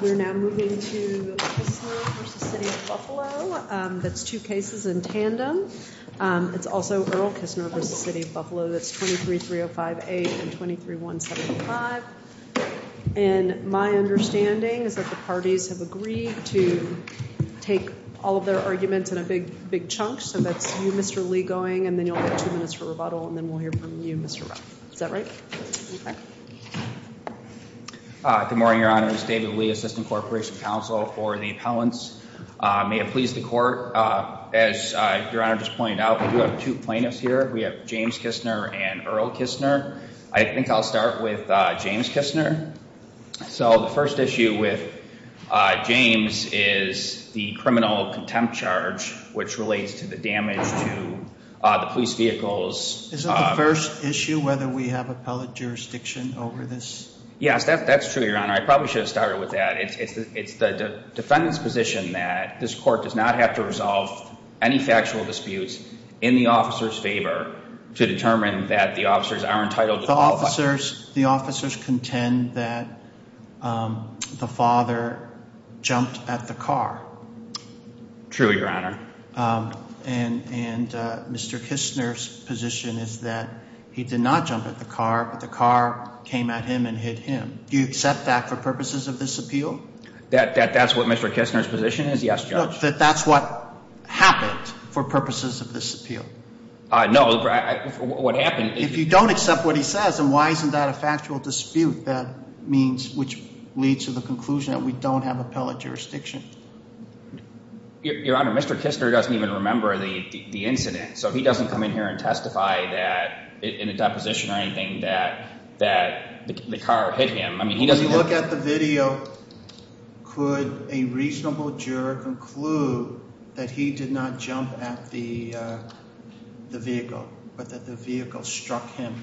We're now moving to Kistner v. The City of Buffalo. That's two cases in tandem. It's also Earl Kistner v. The City of Buffalo. That's 23-305-8 and 23-175. And my understanding is that the parties have agreed to take all of their arguments in a big chunk, so that's you, Mr. Lee, going, and then you'll have two minutes for rebuttal, and then we'll hear from you, Mr. Ruff. Is that right? Good morning, Your Honors. David Lee, Assistant Corporation Counsel for the Appellants. May it please the Court, as Your Honor just pointed out, we do have two plaintiffs here. We have James Kistner and Earl Kistner. I think I'll start with James Kistner. So the first issue with James is the criminal contempt charge, which relates to the damage to the police vehicles. Is it the first issue whether we have appellate jurisdiction over this? Yes, that's true, Your Honor. I probably should have started with that. It's the defendant's position that this Court does not have to resolve any factual disputes in the officer's favor to determine that the officers are entitled to qualify. The officers contend that the father jumped at the car. True, Your Honor. And Mr. Kistner's position is that he did not jump at the car, but the car came at him and hit him. Do you accept that for purposes of this appeal? That's what Mr. Kistner's position is? Yes, Judge. That that's what happened for purposes of this appeal? No, what happened is... If you don't accept what he says, then why isn't that a factual dispute, which leads to the conclusion that we don't have appellate jurisdiction? Your Honor, Mr. Kistner doesn't even remember the incident. So if he doesn't come in here and testify in a deposition or anything that the car hit him... When you look at the video, could a reasonable juror conclude that he did not jump at the vehicle, but that the vehicle struck him?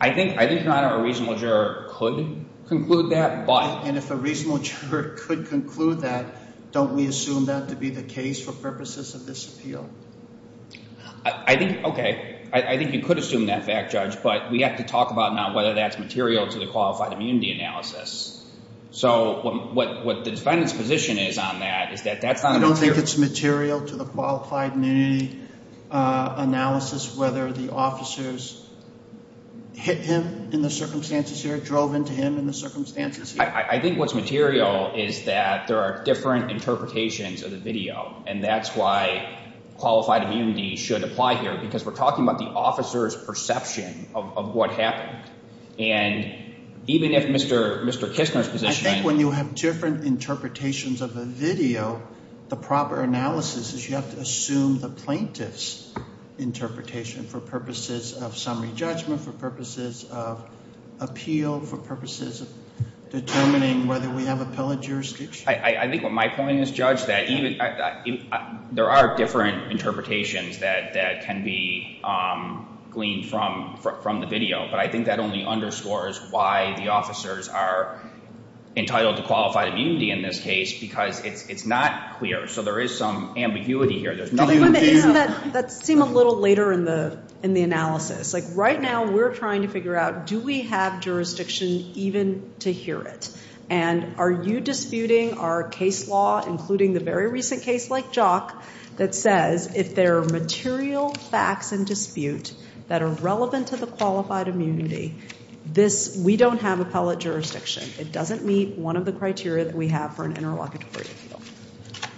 I think, Your Honor, a reasonable juror could conclude that, but... And if a reasonable juror could conclude that, don't we assume that to be the case for purposes of this appeal? Okay. I think you could assume that fact, Judge, but we have to talk about now whether that's material to the qualified immunity analysis. What the defendant's position is on that is that that's not a material... You don't think it's material to the qualified immunity analysis whether the officers hit him in the circumstances here, but I think what's material is that there are different interpretations of the video, and that's why qualified immunity should apply here because we're talking about the officer's perception of what happened. And even if Mr. Kistner's position... I think when you have different interpretations of a video, the proper analysis is you have to assume the plaintiff's interpretation for purposes of summary judgment, for purposes of appeal, for purposes of determining whether we have appellate jurisdiction. I think what my point is, Judge, that there are different interpretations that can be gleaned from the video, but I think that only underscores why the officers are entitled to qualified immunity in this case because it's not clear, so there is some ambiguity here. That seemed a little later in the analysis. Right now, we're trying to figure out, do we have jurisdiction even to hear it? And are you disputing our case law, including the very recent case like Jock, that says if there are material facts in dispute that are relevant to the qualified immunity, we don't have appellate jurisdiction. It doesn't meet one of the criteria that we have for an interlocutory appeal.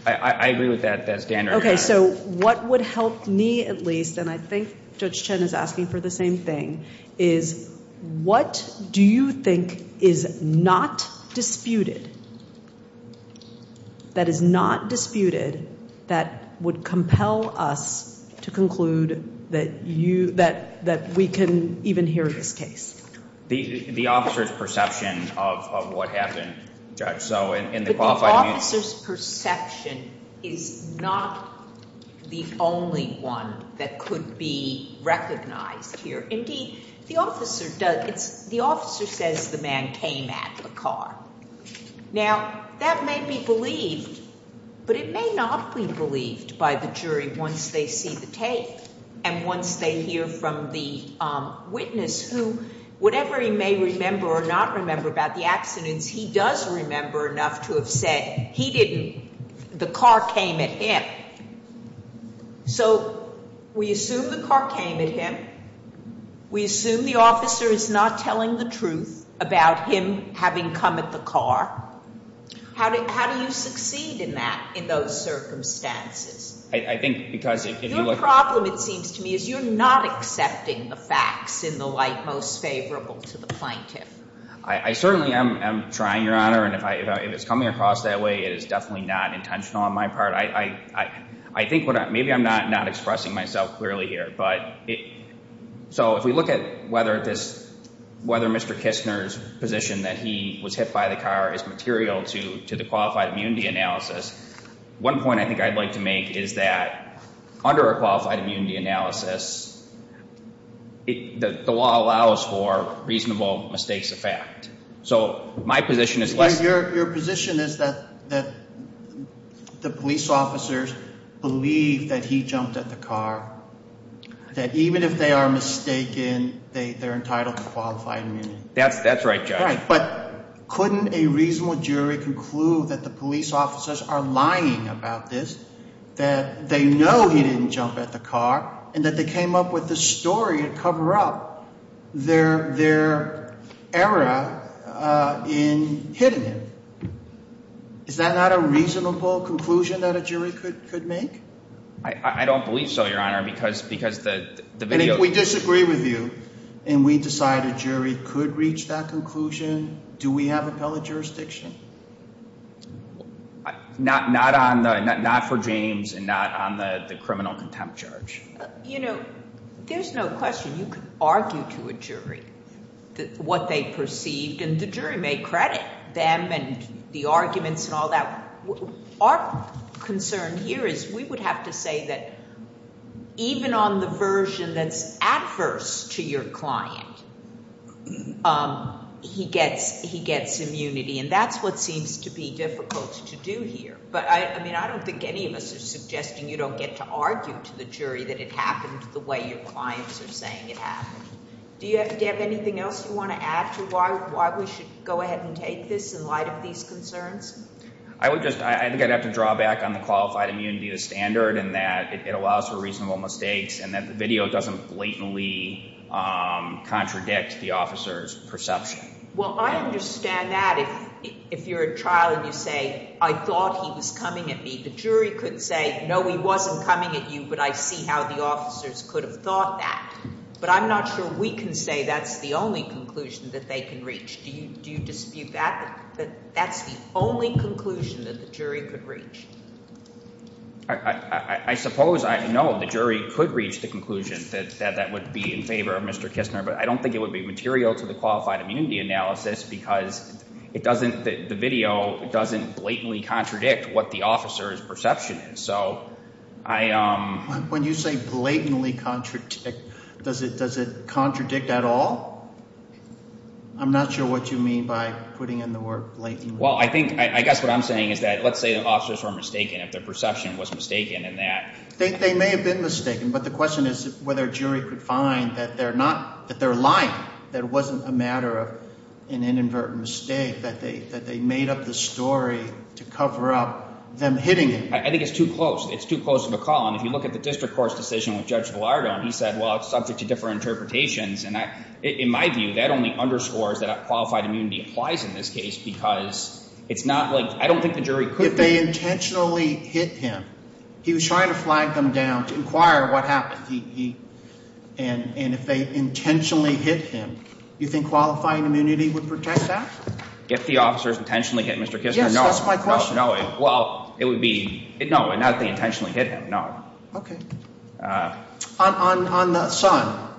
I agree with that standard. Okay, so what would help me at least, and I think Judge Chen is asking for the same thing, is what do you think is not disputed that is not disputed that would compel us to conclude that we can even hear this case? The officer's perception of what happened, Judge. But the officer's perception is not the only one that could be recognized here. Indeed, the officer says the man came at the car. Now, that may be believed, but it may not be believed by the jury once they see the tape and once they hear from the witness who, whatever he may remember or not remember about the accidents, he does remember enough to have said he didn't, the car came at him. Okay, so we assume the car came at him. We assume the officer is not telling the truth about him having come at the car. How do you succeed in that, in those circumstances? Your problem, it seems to me, is you're not accepting the facts in the light most favorable to the plaintiff. I certainly am trying, Your Honor, and if it's coming across that way, it is definitely not I think, maybe I'm not expressing myself clearly here, but so if we look at whether this, whether Mr. Kistner's position that he was hit by the car is material to the qualified immunity analysis, one point I think I'd like to make is that under a qualified immunity analysis, the law allows for reasonable mistakes of fact. So my position is less Your position is that the police officers believe that he jumped at the car, that even if they are mistaken, they're entitled to qualified immunity. That's right, Judge. But couldn't a reasonable jury conclude that the police officers are lying about this, that they know he didn't jump at the car and that they came up with this story to cover up their error in hitting him? Is that not a reasonable conclusion that a jury could make? I don't believe so, Your Honor, because And if we disagree with you and we decide a jury could reach that conclusion, do we have appellate jurisdiction? Not for James and not on the criminal contempt charge. You know, there's no question you could argue to a jury what they perceived and the arguments and all that. Our concern here is we would have to say that even on the version that's adverse to your client, he gets immunity. And that's what seems to be difficult to do here. But I mean, I don't think any of us are suggesting you don't get to argue to the jury that it happened the way your clients are saying it happened. Do you have anything else you want to add to why we should go ahead and take this in light of these concerns? I think I'd have to draw back on the qualified immunity to standard and that it allows for reasonable mistakes and that the video doesn't blatantly contradict the officer's perception. Well, I understand that if you're at trial and you say, I thought he was coming at me. The jury could say, no, he wasn't coming at you, but I see how the officers could have thought that. But I'm not sure we can say that's the only conclusion that they can reach. Do you dispute that? That's the only conclusion that the jury could reach. I suppose I know the jury could reach the conclusion that that would be in favor of Mr. Kistner, but I don't think it would be material to the qualified immunity analysis because the video doesn't blatantly contradict what the officer's perception is. When you say blatantly contradict, does it contradict at all? I'm not sure what you mean by putting in the word blatantly. Well, I guess what I'm saying is that let's say the officers were mistaken if their perception was mistaken. They may have been mistaken, but the question is whether a jury could find that they're lying, that it wasn't a matter of an inadvertent mistake, that they made up the story to cover up them hitting him. I think it's too close. It's too close of a call. And if you look at the district court's decision with Judge Gallardo and he said, well, it's subject to different interpretations. In my view, that only underscores that qualified immunity applies in this case because it's not like, I don't think the jury could. If they intentionally hit him, he was trying to flag them down to inquire what happened. And if they intentionally hit him, you think qualifying immunity would protect that? If the officers intentionally hit Mr. Kistner, no. Yes, that's my question. Well, it would be, no, not if they intentionally hit him, no. Okay. On the son,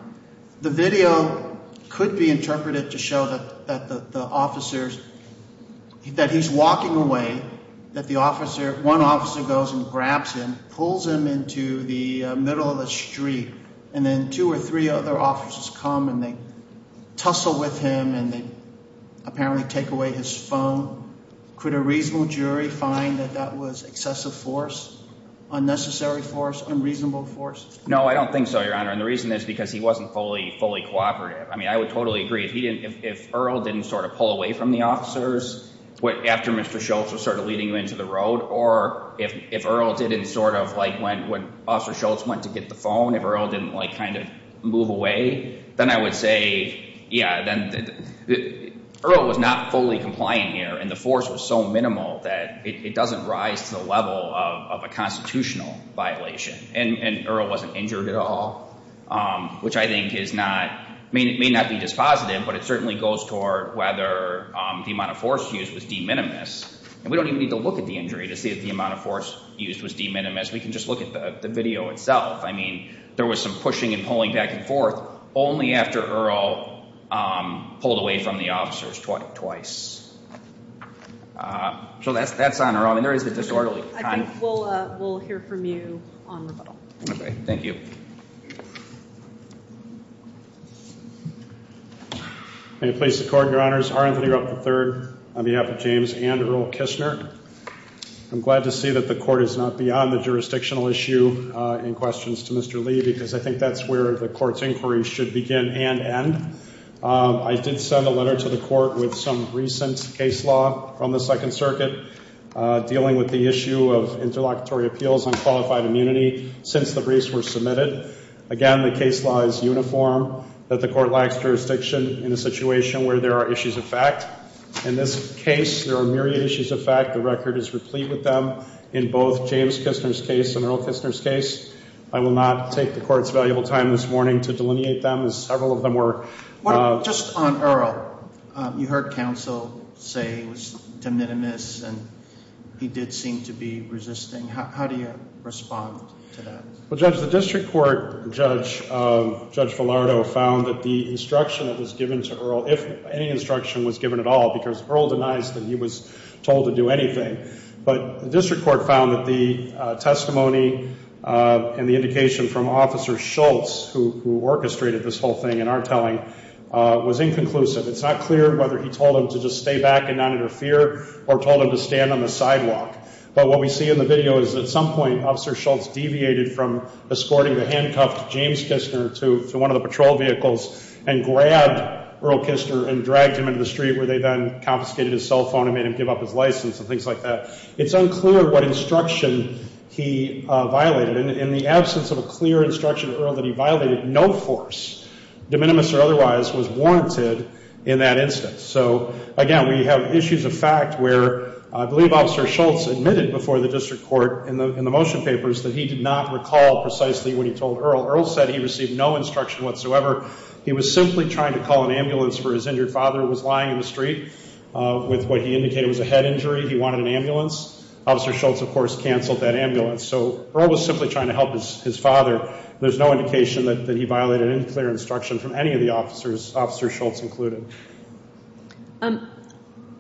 the video could be interpreted to show that the officers, that he's walking away, that the officer, one officer goes and grabs him, pulls him into the middle of the street, and then two or three other officers come and they tussle with him and they apparently take away his phone. Could a reasonable jury find that that was excessive force, unnecessary force, unreasonable force? No, I don't think so, Your Honor, and the reason is because he wasn't fully cooperative. I mean, I would totally agree if Earl didn't sort of pull away from the officers after Mr. Schultz was sort of leading him into the road, or if Earl didn't sort of, like when Officer Schultz went to get the phone, if Earl didn't kind of move away, then I would say, yeah, then Earl was not fully compliant here and the force was so minimal that it doesn't rise to the level of a constitutional violation and Earl wasn't injured at all, which I think is not may not be dispositive, but it certainly goes toward whether the amount of force used was de minimis, and we don't even need to look at the injury to see if the amount of force used was de minimis. We can just look at the video itself. I mean, there was some pushing and pulling back and forth only after Earl pulled away from the officers twice. So that's on Earl. I mean, there is a disorderly kind. I think we'll hear from you on rebuttal. Okay, thank you. May it please the Court, Your Honors. R. Anthony Rupp III on behalf of James and Earl Kishner. I'm glad to see that the Court is not beyond the jurisdictional issue in questions to Mr. Lee because I think that's where the Court's inquiry should begin and end. I did send a letter to the Court with some recent case law from the Second Circuit dealing with the issue of interlocutory appeals on qualified immunity since the briefs were submitted. Again, the case law is uniform that the Court lacks jurisdiction in a situation where there are issues of fact. In this case, there are myriad issues of fact. The record is replete with them in both James Kishner's case and Earl Kishner's case. I will not take the Court's valuable time this morning to delineate them as several of them were Just on Earl, you heard counsel say he was de minimis and he did seem to be resisting. How do you respond to that? Well, Judge, the District Court Judge Villardo found that the instruction that was given to Earl, if any instruction was given at all, because Earl denies that he was told to do anything, but the District Court found that the testimony and the indication from Officer Schultz, who was in conclusion, it's not clear whether he told him to just stay back and not interfere or told him to stand on the sidewalk. But what we see in the video is at some point Officer Schultz deviated from escorting the handcuffed James Kishner to one of the patrol vehicles and grabbed Earl Kishner and dragged him into the street where they then confiscated his cell phone and made him give up his license and things like that. It's unclear what instruction he violated. In the absence of a clear instruction to Earl that he violated no force, de minimis or otherwise, was warranted in that instance. So again, we have issues of fact where I believe Officer Schultz admitted before the District Court in the motion papers that he did not recall precisely what he told Earl. Earl said he received no instruction whatsoever. He was simply trying to call an ambulance for his injured father who was lying in the street with what he indicated was a head injury. He wanted an ambulance. Officer Schultz, of course, canceled that ambulance. So Earl was simply trying to help his father. There's no indication that he violated any clear instruction from any of the officers, Officer Schultz included.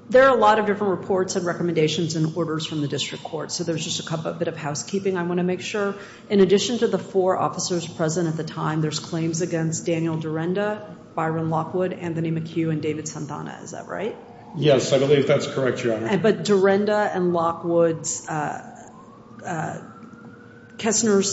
There are a lot of different reports and recommendations and orders from the District Court. So there's just a bit of housekeeping I want to make sure. In addition to the four officers present at the time, there's claims against Daniel Durenda, Byron Lockwood, Anthony McHugh and David Santana. Is that right? Yes, I believe that's correct, Your Honor. But Durenda and Lockwood's Kessner's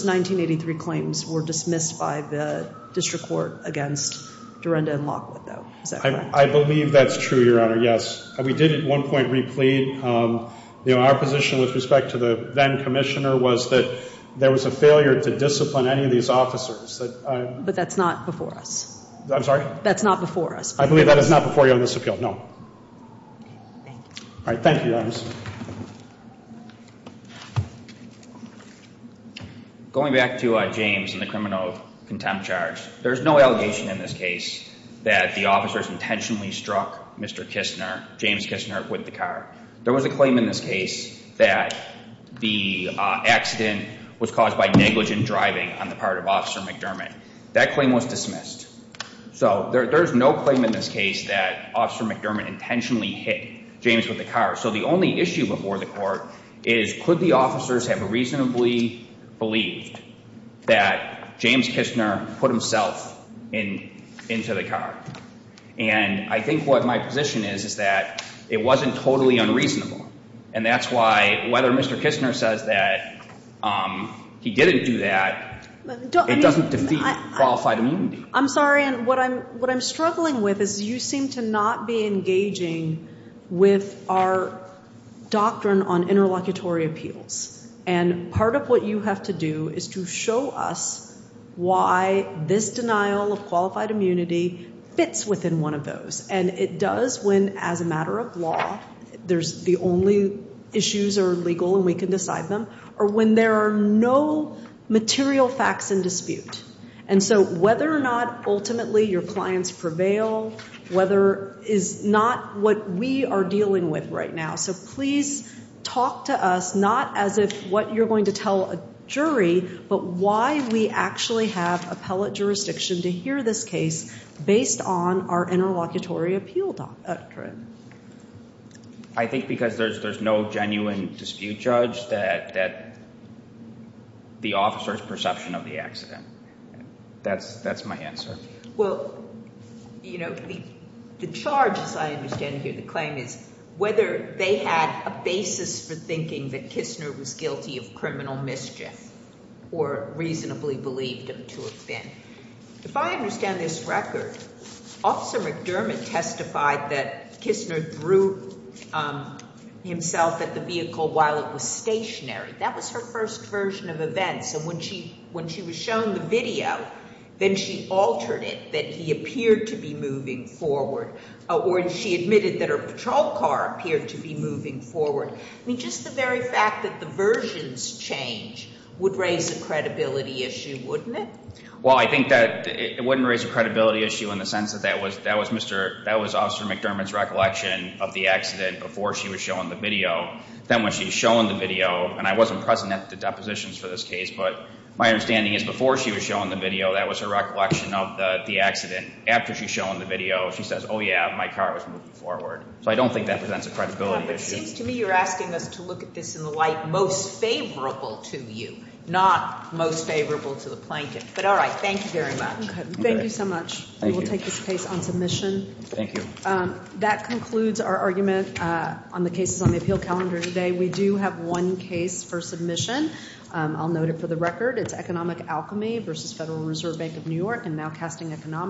1983 claims were dismissed by the District Court against Durenda and Lockwood, though. Is that correct? I believe that's true, Your Honor. Yes. We did at one point replete our position with respect to the then Commissioner was that there was a failure to discipline any of these officers. But that's not before us. I'm sorry? That's not before us. I believe that is not before you on this appeal. No. All right. Thank you, Your Honor. Thank you. Going back to James and the criminal contempt charge, there's no allegation in this case that the officers intentionally struck Mr. Kessner, James Kessner, with the car. There was a claim in this case that the accident was caused by negligent driving on the part of Officer McDermott. That claim was dismissed. So there's no claim in this case that Officer McDermott intentionally hit James with the car. So the only issue before the Court is could the officers have reasonably believed that James Kessner put himself into the car? And I think what my position is is that it wasn't totally unreasonable. And that's why whether Mr. Kessner says that he didn't do that, it doesn't defeat qualified immunity. I'm sorry, and what I'm struggling with is you seem to not be engaging with our doctrine on interlocutory appeals. And part of what you have to do is to show us why this denial of qualified immunity fits within one of those. And it does when, as a matter of law, the only issues are legal and we can decide them, or when there are no material facts in dispute. And so whether or not ultimately your clients prevail is not what we are dealing with right now. So please talk to us, not as if what you're going to tell a jury, but why we actually have appellate jurisdiction to hear this case based on our interlocutory appeal doctrine. I think because there's no genuine dispute judge that the officer's perception of the accident. That's my answer. The charge, as I understand it here, the claim is whether they had a basis for thinking that Kessner was guilty of criminal mischief or reasonably believed him to have been. If I understand this record, Officer McDermott testified that Kessner threw himself at the vehicle while it was stationary. That was her first version of events. And when she was shown the video, then she altered it that he appeared to be moving forward, or she admitted that her patrol car appeared to be moving forward. I mean, just the very fact that the versions change would raise a credibility issue, wouldn't it? Well, I think that it wouldn't raise a credibility issue in the sense that that was Officer McDermott's recollection of the accident before she was shown the video. Then when she was shown the video, and I wasn't pressing the depositions for this case, but my understanding is before she was shown the video, that was her recollection of the accident. After she's shown the video, she says, oh yeah, my car was moving forward. So I don't think that presents a credibility issue. It seems to me you're asking us to look at this in the light most favorable to you, not most favorable to the plaintiff. But all right, thank you very much. Thank you so much. We will take this case on submission. That concludes our argument on the cases on the appeal calendar today. We do have one case for submission. I'll note it for the record. It's Economic Alchemy v. Federal Reserve Bank of New York.